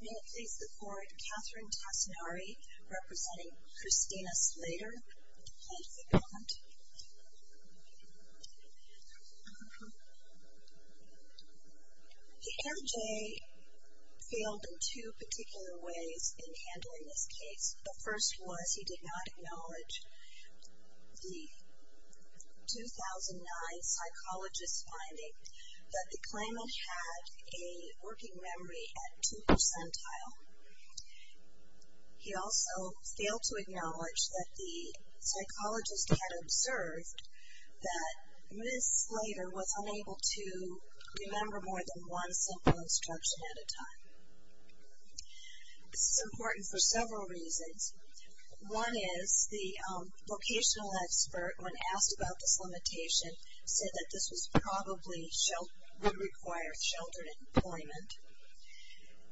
May it please the court, Katherine Tassinari representing Christina Slayter, plaintiff at the moment. The MJ failed in two particular ways in handling this case. The first was he did not acknowledge the 2009 psychologist's finding that the claimant had a working memory at two percentile. He also failed to acknowledge that the psychologist had observed that Ms. Slayter was unable to remember more than one simple instruction at a time. This is important for several reasons. One is the vocational expert, when asked about this limitation, said that this would probably require sheltered employment.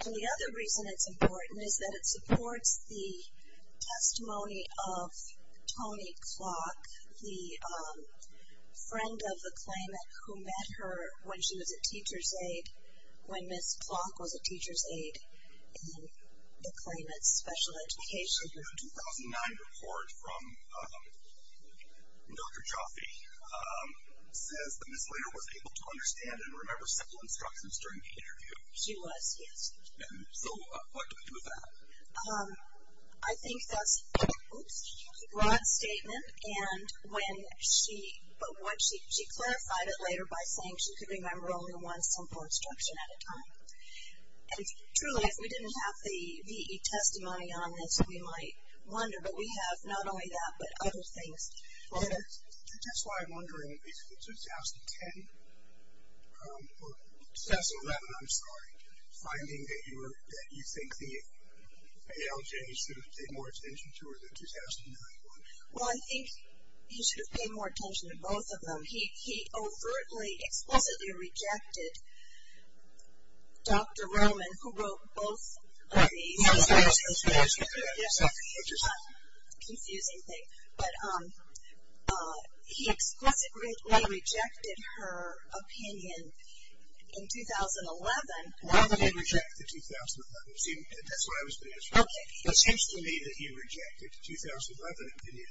The other reason it's important is that it supports the testimony of Tony Clock, the friend of the claimant who met her when she was a teacher's aide, when Ms. Clock was a teacher's aide in the claimant's special education group. The 2009 report from Dr. Jaffe says that Ms. Slayter was able to understand and remember simple instructions during the interview. She was, yes. I think that's a broad statement, but she clarified it later by saying she could remember only one simple instruction at a time. And truly, if we didn't have the V.E. testimony on this, we might wonder, but we have not only that, but other things. Well, that's why I'm wondering, is the 2010, or 2011, I'm sorry, finding that you think the ALJ should have paid more attention to, or the 2009 one? Well, I think he should have paid more attention to both of them. He overtly, explicitly rejected Dr. Roman, who wrote both of these. It's a confusing thing, but he explicitly rejected her opinion in 2011. Why would he reject the 2011? That's what I was going to ask first. It seems to me that he rejected the 2011 opinion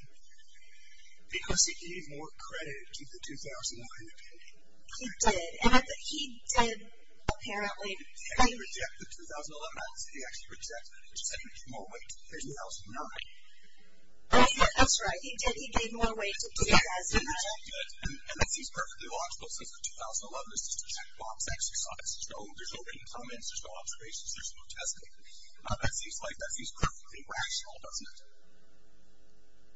because he gave more credit to the 2009 opinion. He did, and he did apparently. He didn't reject the 2011 opinion. He actually rejected it because he gave more weight to 2009. That's right. He did. He gave more weight to 2009. He rejected it, and that seems perfectly logical since the 2011 is just a checkbox exercise. There's no written comments. There's no observations. There's no testing. That seems perfectly rational, doesn't it?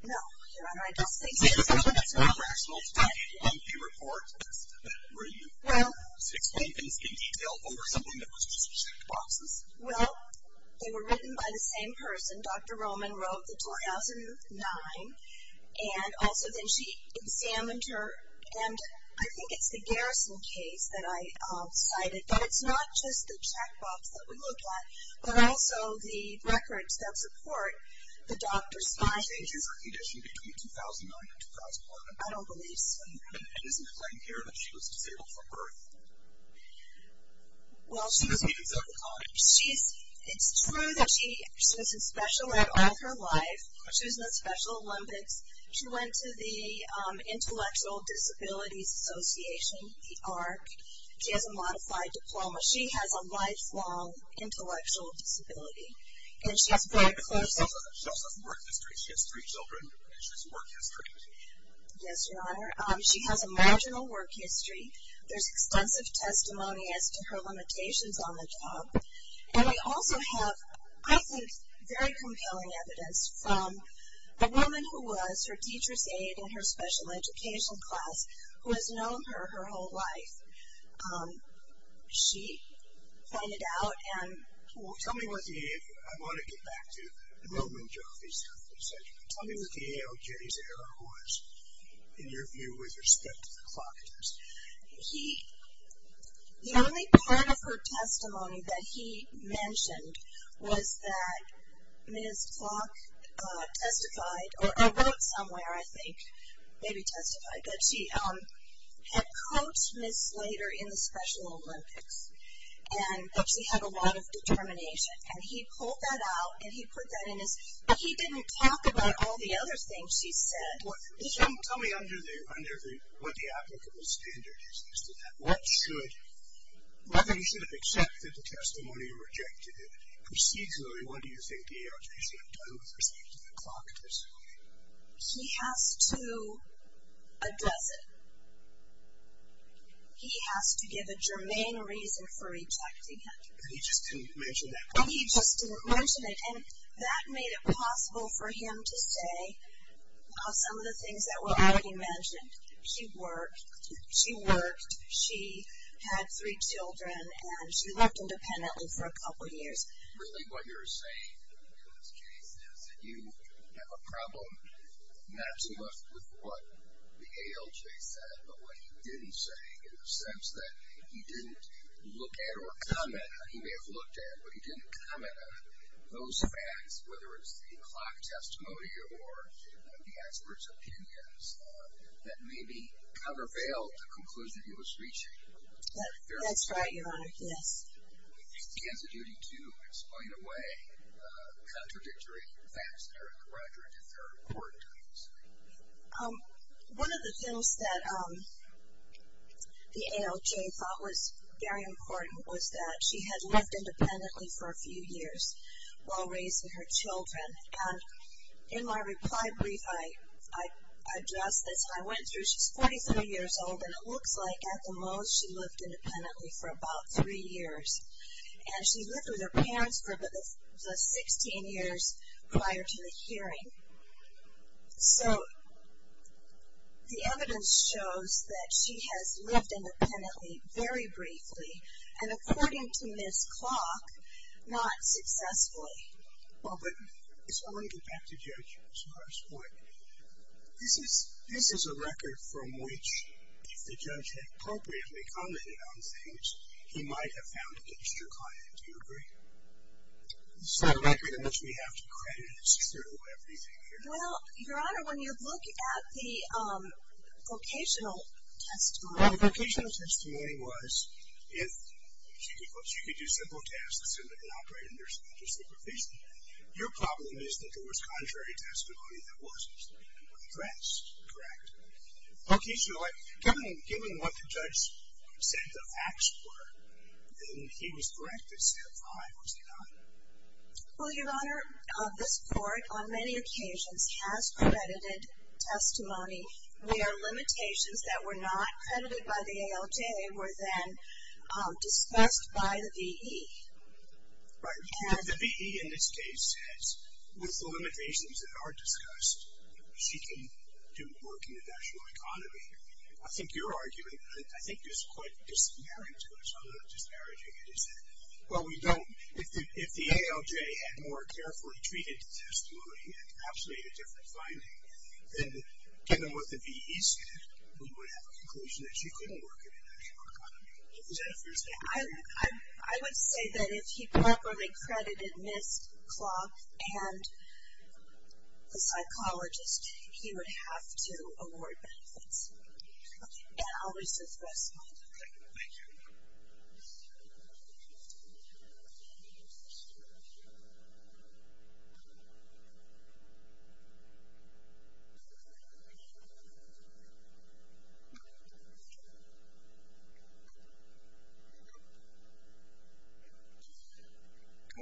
No. I don't think so. That's not rational to take a report that's that brief, to explain things in detail over something that was just checkboxes. Well, they were written by the same person. Dr. Roman wrote the 2009, and also then she examined her, and I think it's the Garrison case that I cited, but it's not just the checkbox that we look at, but also the records that support the doctor's findings. Did she change her condition between 2009 and 2011? I don't believe so. And isn't it right here that she was disabled from birth? Well, it's true that she was in Special Olympics all her life. She was in the Special Olympics. She went to the Intellectual Disabilities Association, the ARC. She has a modified diploma. She has a lifelong intellectual disability. She also has work history. She has three children, and she has work history. Yes, Your Honor. She has a marginal work history. There's extensive testimony as to her limitations on the job. And we also have, I think, very compelling evidence from a woman who was her teacher's aide in her special education class who has known her her whole life. She pointed out and told us. Tell me what the ALJ's error was, in your view, with respect to the clock test. The only part of her testimony that he mentioned was that Ms. Clock testified or wrote somewhere, I think, maybe testified, that she had coached Ms. Slater in the Special Olympics and that she had a lot of determination. And he pulled that out, and he put that in his. But he didn't talk about all the other things she said. Tell me what the applicable standard is as to that. What should? You should have accepted the testimony or rejected it. Procedurally, what do you think the ALJ should have done with respect to the clock test? He has to address it. He has to give a germane reason for rejecting it. But he just didn't mention that part. He just didn't mention it. And that made it possible for him to say some of the things that were already mentioned. She worked. She worked. She had three children, and she lived independently for a couple of years. Really what you're saying in this case is that you have a problem, not so much with what the ALJ said, but what he didn't say, in the sense that he didn't look at or comment on, he may have looked at, but he didn't comment on those facts, whether it's the clock testimony or the expert's opinions that maybe kind of availed the conclusion he was reaching. That's right, Your Honor. Yes. He has a duty to explain away contradictory facts that are corroborative or important to this case. One of the things that the ALJ thought was very important was that she had lived independently for a few years while raising her children. And in my reply brief, I address this. And I went through. She's 43 years old, and it looks like at the most she lived independently for about three years. And she lived with her parents for about 16 years prior to the hearing. So the evidence shows that she has lived independently very briefly, and according to Ms. Clock, not successfully. Well, but I want to get back to Judge Smart's point. This is a record from which, if the judge had appropriately commented on things, he might have found an extra client. Do you agree? It's not a record in which we have to credit through everything here. Well, Your Honor, when you look at the vocational testimony. The vocational testimony was if she could do simple tasks, assuming they operated under special supervision. Your problem is that there was contrary testimony that wasn't. Correct. Correct. Okay. So given what the judge said the facts were, then he was correct in saying I was not. Well, Your Honor, this court on many occasions has credited testimony where limitations that were not credited by the ALJ were then discussed by the V.E. Right. The V.E. in this case says with the limitations that are discussed, she can do work in the national economy. I think you're arguing, I think it's quite disparaging to us. I don't know if disparaging it is that. Well, we don't, if the ALJ had more carefully treated the testimony and actually had a different finding, then given what the V.E. said, we would have a conclusion that she couldn't work in the national economy. Is that a fair statement? I would say that if he properly credited Ms. Clough and the psychologist, he would have to award benefits. Okay. Okay. Thank you. Good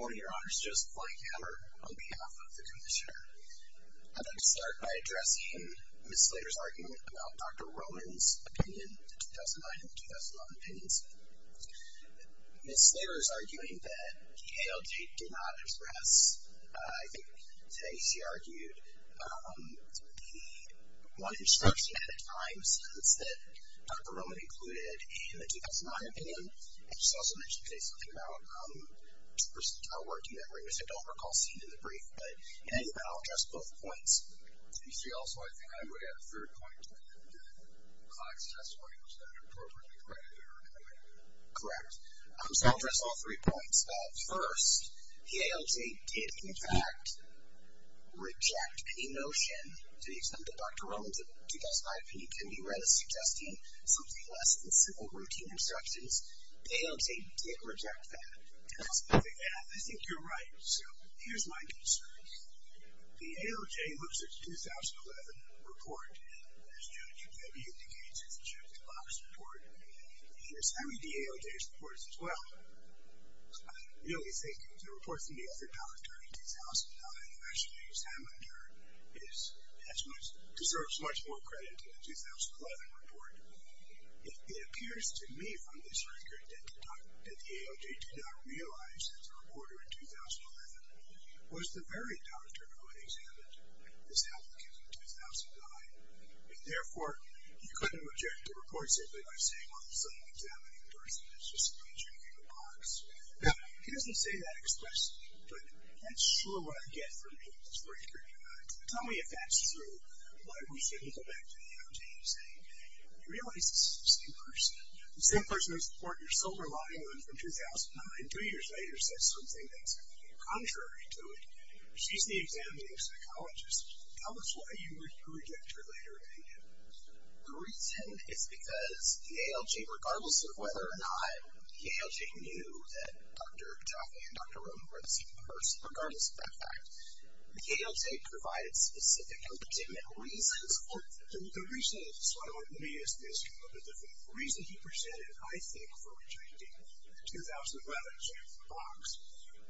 morning, Your Honor. Joseph Blankhammer on behalf of the commissioner. I'd like to start by addressing Ms. Slater's argument about Dr. Rowan's opinion, the 2009 and the 2011 opinions. Ms. Slater is arguing that the ALJ did not express, I think today she argued the one instruction at a time sentence that Dr. Rowan included in the 2009 opinion. She also mentioned today something about, first of all, working memory, which I don't recall seeing in the brief. But, anyhow, I'll address both points. You see, also, I think I would add a third point to that, that Ms. Clough's testimony was not appropriately credited or commended. Correct. So I'll address all three points. First, the ALJ did, in fact, reject any notion, to the extent that Dr. Rowan's 2005 opinion can be read as suggesting something less than simple, routine instructions. The ALJ did reject that. I think you're right. So here's my concern. The ALJ looks at the 2011 report, as Judge Weber indicates, as a check-the-box report. And it's heavy, the ALJ's report, as well. I really think the report from the other doctor in 2009, Ashley Samender, deserves much more credit than the 2011 report. It appears to me from this record that the ALJ did not realize that the very doctor who had examined this applicant in 2009, and, therefore, he couldn't reject the report simply by saying, well, there's some examining person that's just a good check-the-box. Now, he doesn't say that expressly, but that's sure what I get from reading this record. Tell me if that's true, why we shouldn't go back to the ALJ and say, hey, we realize this is the same person, the same person who supported your silver lining from 2009, and two years later says something that's contrary to it. She's the examining psychologist. Tell us why you would reject her later in the interview. The reason is because the ALJ, regardless of whether or not the ALJ knew that Dr. Jaffe and Dr. Romo were the same person, regardless of that fact, the ALJ provided specific legitimate reasons for it. The reason, so I want you to read this, the reason he presented, I think, for rejecting the 2011 check-the-box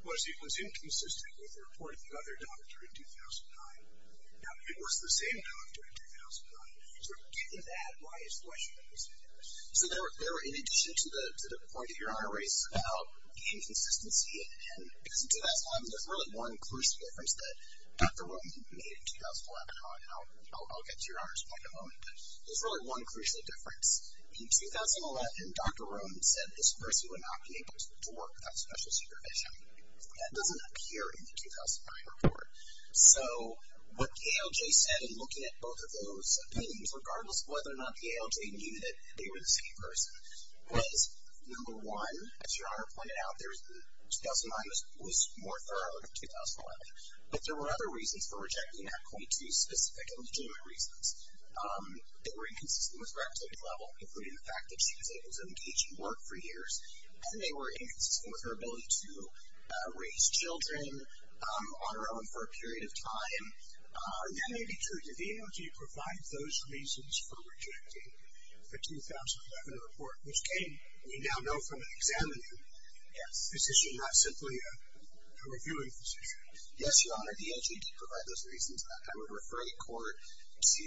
was it was inconsistent with the report of the other doctor in 2009. Now, it was the same doctor in 2009. So, given that, why is the question the same? So there were, in addition to the point that your honor raised about inconsistency, and because in 2011 there's really one crucial difference that Dr. Romo made in 2011, and I'll get to your honor's point in a moment, but there's really one crucial difference. In 2011, Dr. Romo said this person would not be able to work without special supervision. That doesn't appear in the 2009 report. So, what the ALJ said in looking at both of those opinions, regardless of whether or not the ALJ knew that they were the same person, was, number one, as your honor pointed out, 2009 was more thorough than 2011. But there were other reasons for rejecting that, quite two specific legitimate reasons. They were inconsistent with her academic level, including the fact that she was able to engage in work for years, and they were inconsistent with her ability to raise children on her own for a period of time. That may be true. Did the ALJ provide those reasons for rejecting the 2011 report, which came, we now know from an examining physician, not simply a reviewing physician? Yes, your honor, the ALJ did provide those reasons. I would refer the court to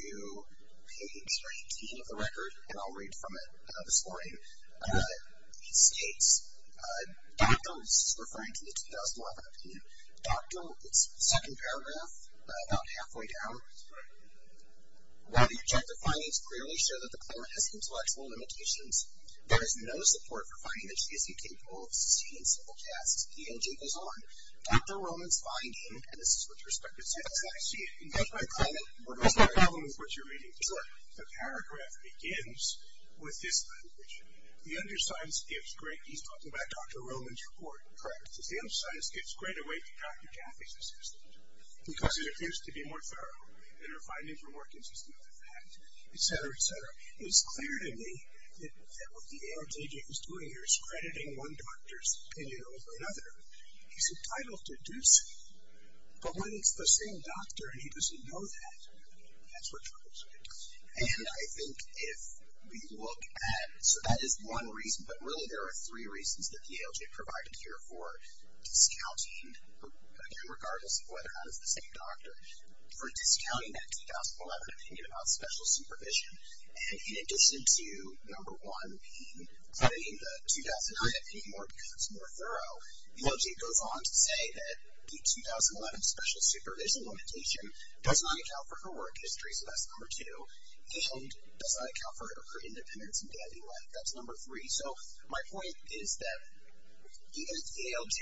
page 19 of the record, and I'll read from it this morning. It states, Dr. is referring to the 2011 opinion. Dr., it's second paragraph, about halfway down. While the objective findings clearly show that the claimant has intellectual limitations, there is no support for finding that she is incapable of succeeding in simple tasks. The ALJ goes on. Dr. Roman's finding, and this is with respect to the case, I see it, and that's why I call it what you're reading. The paragraph begins with this language. The undersigned skips great, he's talking about Dr. Roman's report. Correct. The undersigned skips great a way to Dr. Jaffe's assistant, because it appears to be more thorough in her findings were more consistent with the fact, et cetera, et cetera. It is clear to me that what the ALJ is doing here is crediting one doctor's opinion over another. He's entitled to do so, but when it's the same doctor and he doesn't know that, that's what troubles me. And I think if we look at it, so that is one reason, but really there are three reasons that the ALJ provided here for discounting, again, regardless of whether or not it's the same doctor, for discounting that 2011 opinion about special supervision. And in addition to, number one, crediting the 2009 opinion more because it's more thorough, the ALJ goes on to say that the 2011 special supervision limitation does not account for her work history, so that's number two, and does not account for her independence in daily life. That's number three. So my point is that even if the ALJ,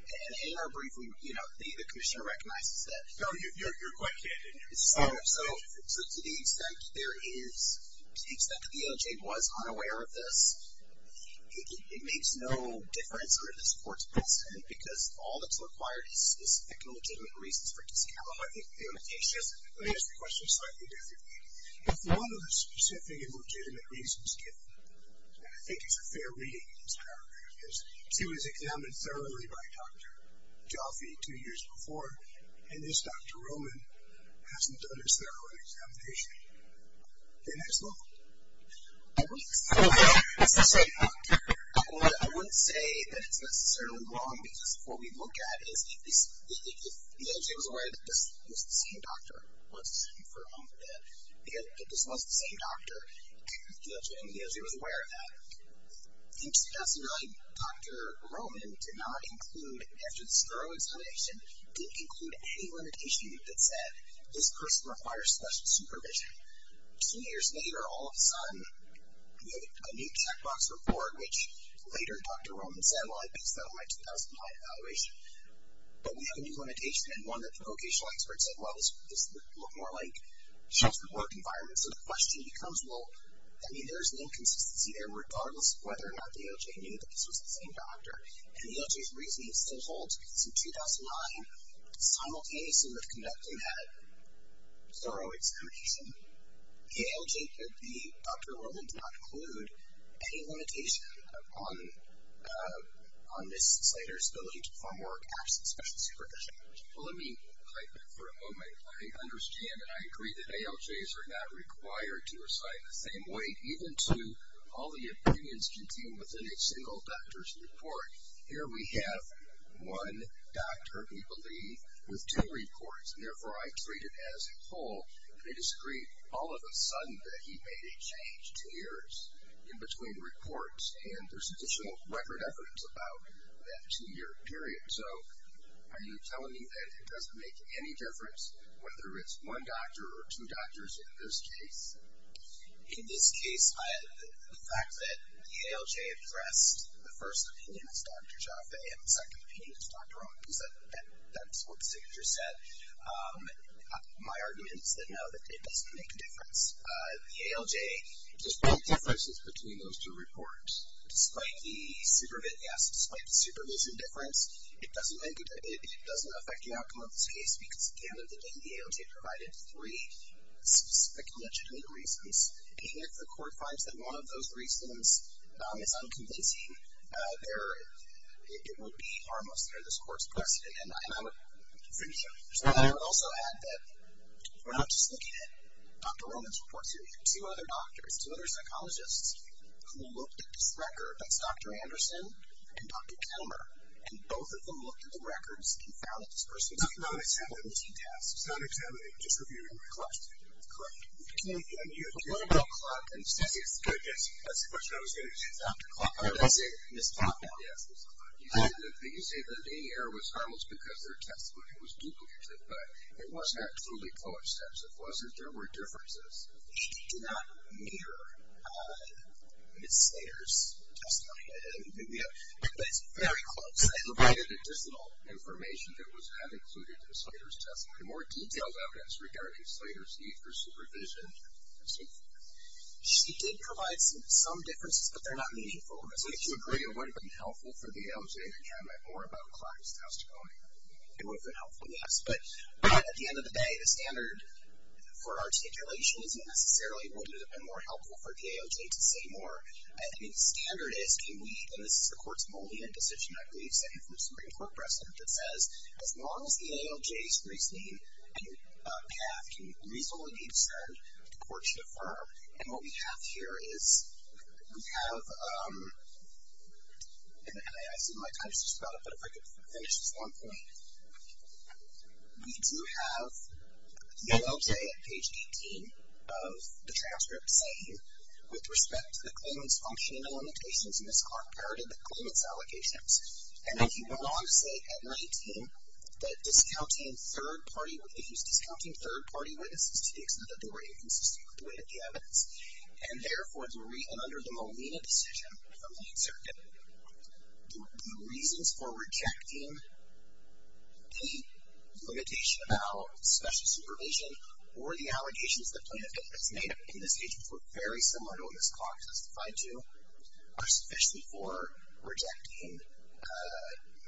and in our briefing, you know, the commissioner recognizes that. No, you're quite candid here. So to the extent that there is, to the extent that the ALJ was unaware of this, it makes no difference under this court's precedent, because all that's required is specific and legitimate reasons for discounting. Let me ask you a question slightly differently. If one of the specific and legitimate reasons, and I think it's a fair reading in this paragraph, is she was examined thoroughly by Dr. Jaffe two years before, and this Dr. Roman hasn't done his thorough examination, then it's wrong. I wouldn't say that it's necessarily wrong, because what we look at is if the ALJ was aware that this was the same doctor, once it's confirmed that this was the same doctor, and the ALJ was aware of that, it seems to me that Dr. Roman did not include, after this thorough examination, didn't include any limitation that said, this person requires special supervision. Two years later, all of a sudden, we have a new checkbox report, which later Dr. Roman said, well, I based that on my 2009 evaluation. But we have a new limitation, and one that the vocational expert said, well, this looked more like just the work environment. So the question becomes, well, I mean, there's an inconsistency there, regardless of whether or not the ALJ knew that this was the same doctor. And the ALJ's reasoning still holds, because in 2009, simultaneously with conducting that thorough examination, the ALJ could be Dr. Roman did not include any limitation on this citer's ability to perform work absent special supervision. Well, let me type it for a moment. I understand and I agree that ALJs are not required to recite in the same way, even to all the opinions contained within a single doctor's report. Here we have one doctor, we believe, with two reports, and therefore I treat it as a whole. And I disagree all of a sudden that he made a change. Two years in between reports, and there's additional record evidence about that two-year period. So are you telling me that it doesn't make any difference whether it's one doctor or two doctors in this case? In this case, the fact that the ALJ addressed the first opinion as Dr. Jaffe and the second opinion as Dr. Roman, because that's what the signature said, my argument is that, no, it doesn't make a difference. The ALJ, despite the supervision difference, it doesn't affect the outcome of this case because, again, the ALJ provided three specific and legitimate reasons. And if the court finds that one of those reasons is unconvincing, it would be harmless under this court's precedent. And I would also add that we're not just looking at Dr. Roman's reports here. We have two other doctors, two other psychologists, who looked at this record. That's Dr. Anderson and Dr. Kelmer. And both of them looked at the records and found that this person's not examining, just reviewing the records. Correct? Correct. And you're talking about clock and statistics. Yes, that's the question I was going to choose after clock. Oh, that's it. Ms. Klopman. Yes, Ms. Klopman. You say that the error was harmless because their testimony was duplicative, but it was not truly coincidental. It wasn't. There were differences. It did not mirror Ms. Slater's testimony. But it's very close. It provided additional information that was not included in Slater's testimony, more detailed evidence regarding Slater's need for supervision, and so forth. She did provide some differences, but they're not meaningful. Would you agree it would have been helpful for the AOJ to comment more about Klopman's testimony? It would have been helpful, yes. But at the end of the day, the standard for articulation isn't necessarily what would have been more helpful for the AOJ to say more. I think the standard is can we, and this is the court's only decision, I believe, saying from Supreme Court precedent, that says as long as the AOJ's reasoning and path can reasonably be discerned, the court should affirm. And what we have here is we have, and I see my time is just about up, but if I could finish this one point. We do have the AOJ at page 18 of the transcript saying, with respect to the claimant's function and the limitations in this part of the claimant's allegations. And then he went on to say at 19 that discounting third-party witnesses, discounting third-party witnesses to the extent that they were inconsistent with the evidence, and therefore, under the Molina decision from the 8th Circuit, the reasons for rejecting the limitation about special supervision or the allegations the plaintiff has made in this case, which were very similar to what this clock testified to, are sufficient for rejecting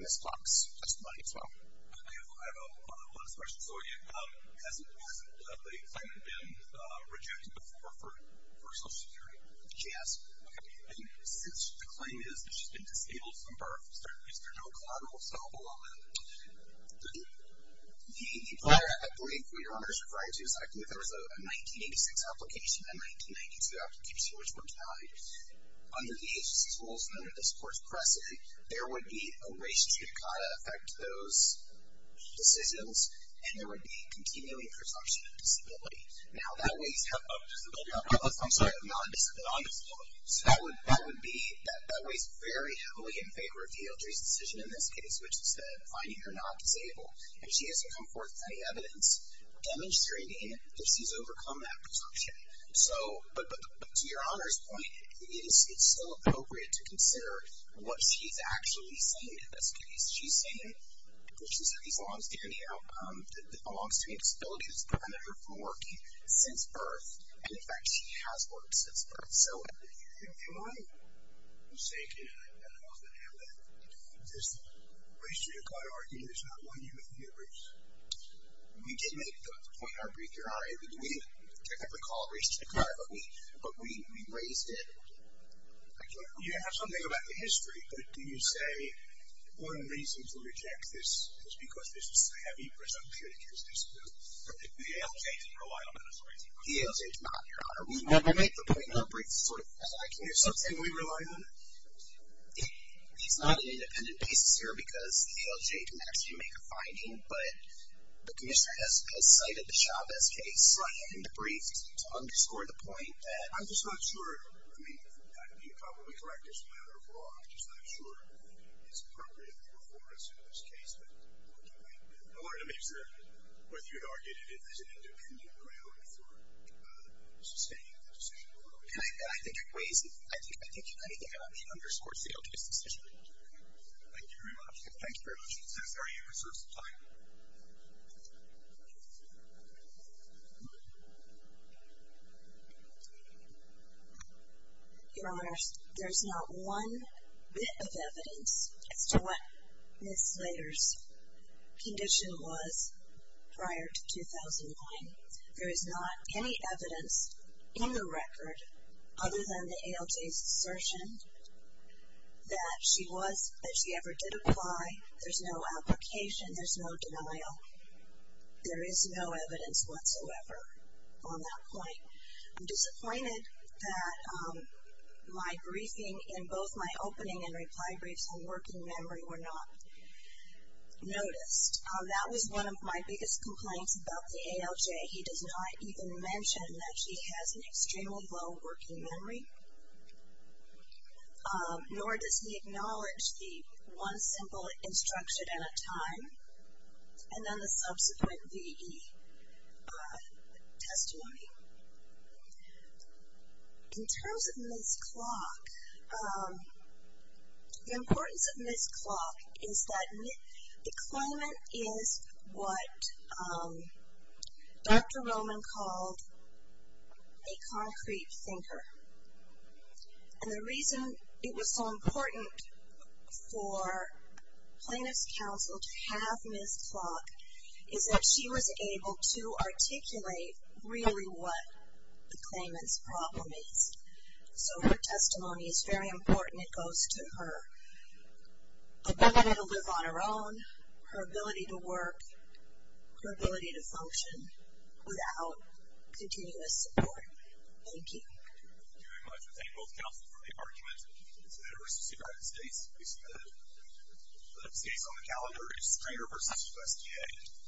this clock's testimony as well. Okay. I have one last question. So has the claimant been rejected before for Social Security? Yes. Okay. And since the claim is that she's been disabled from birth, is there no collateral assault along that? The player, I believe, what you're referring to is I believe there was a 1986 application and a 1992 application, which were denied. Under the agency's rules and under this court's precedent, there would be a race truncata effect to those decisions, and there would be continuing presumption of disability. Now, that weighs heavily. I'm sorry. Of non-disability. Non-disability. So that would be, that weighs very heavily in favor of DLJ's decision in this case, which is that finding her not disabled. If she hasn't come forth with any evidence, damage to her identity, if she's overcome that presumption. So, but to your Honor's point, it's still appropriate to consider what she's actually saying in this case. She's saying that she's had these long-standing outcomes, a long-standing disability that's prevented her from working since birth, and, in fact, she has worked since birth. So, Am I mistaken in how I'm going to handle this race truncata argument We did make the point in our brief, Your Honor. We didn't technically call it race truncata, but we raised it. I can't remember. You have something about the history, but do you say one reason to reject this is because this is a heavy presumption against disability? The DLJ didn't rely on that as a race truncata argument. The DLJ did not, Your Honor. We made the point in our brief as I can recall. Is something we rely on? It's not an independent basis here, because the DLJ didn't actually make a finding, but the commissioner has cited the Chavez case in the brief to underscore the point that. I'm just not sure. I mean, you can probably correct this as a matter of law. I'm just not sure it's appropriate for us in this case, but I wanted to make sure whether you'd argue that it is an independent ground for sustaining the decision. And I think it weighs, I think anything about me underscores the DLJ's decision. Thank you very much. Thank you very much. Ms. Slater, you have reserved some time. Your Honor, there's not one bit of evidence as to what Ms. Slater's condition was prior to 2009. There is not any evidence in the record other than the ALJ's assertion that she ever did apply. There's no application. There's no denial. There is no evidence whatsoever on that point. I'm disappointed that my briefing in both my opening and reply briefs on working memory were not noticed. That was one of my biggest complaints about the ALJ. He does not even mention that she has an extremely low working memory. Nor does he acknowledge the one simple instruction at a time, and then the subsequent VE testimony. In terms of Ms. Clock, the importance of Ms. Clock is that the claimant is what Dr. Roman called a concrete thinker. And the reason it was so important for plaintiff's counsel to have Ms. Clock is that she was able to articulate really what the claimant's problem is. So her testimony is very important. It goes to her ability to live on her own, her ability to work, her ability to function without continuous support. Thank you. Thank you very much. I thank both counsel for the argument. Senator versus the United States. The next case on the calendar is Stringer versus USDA.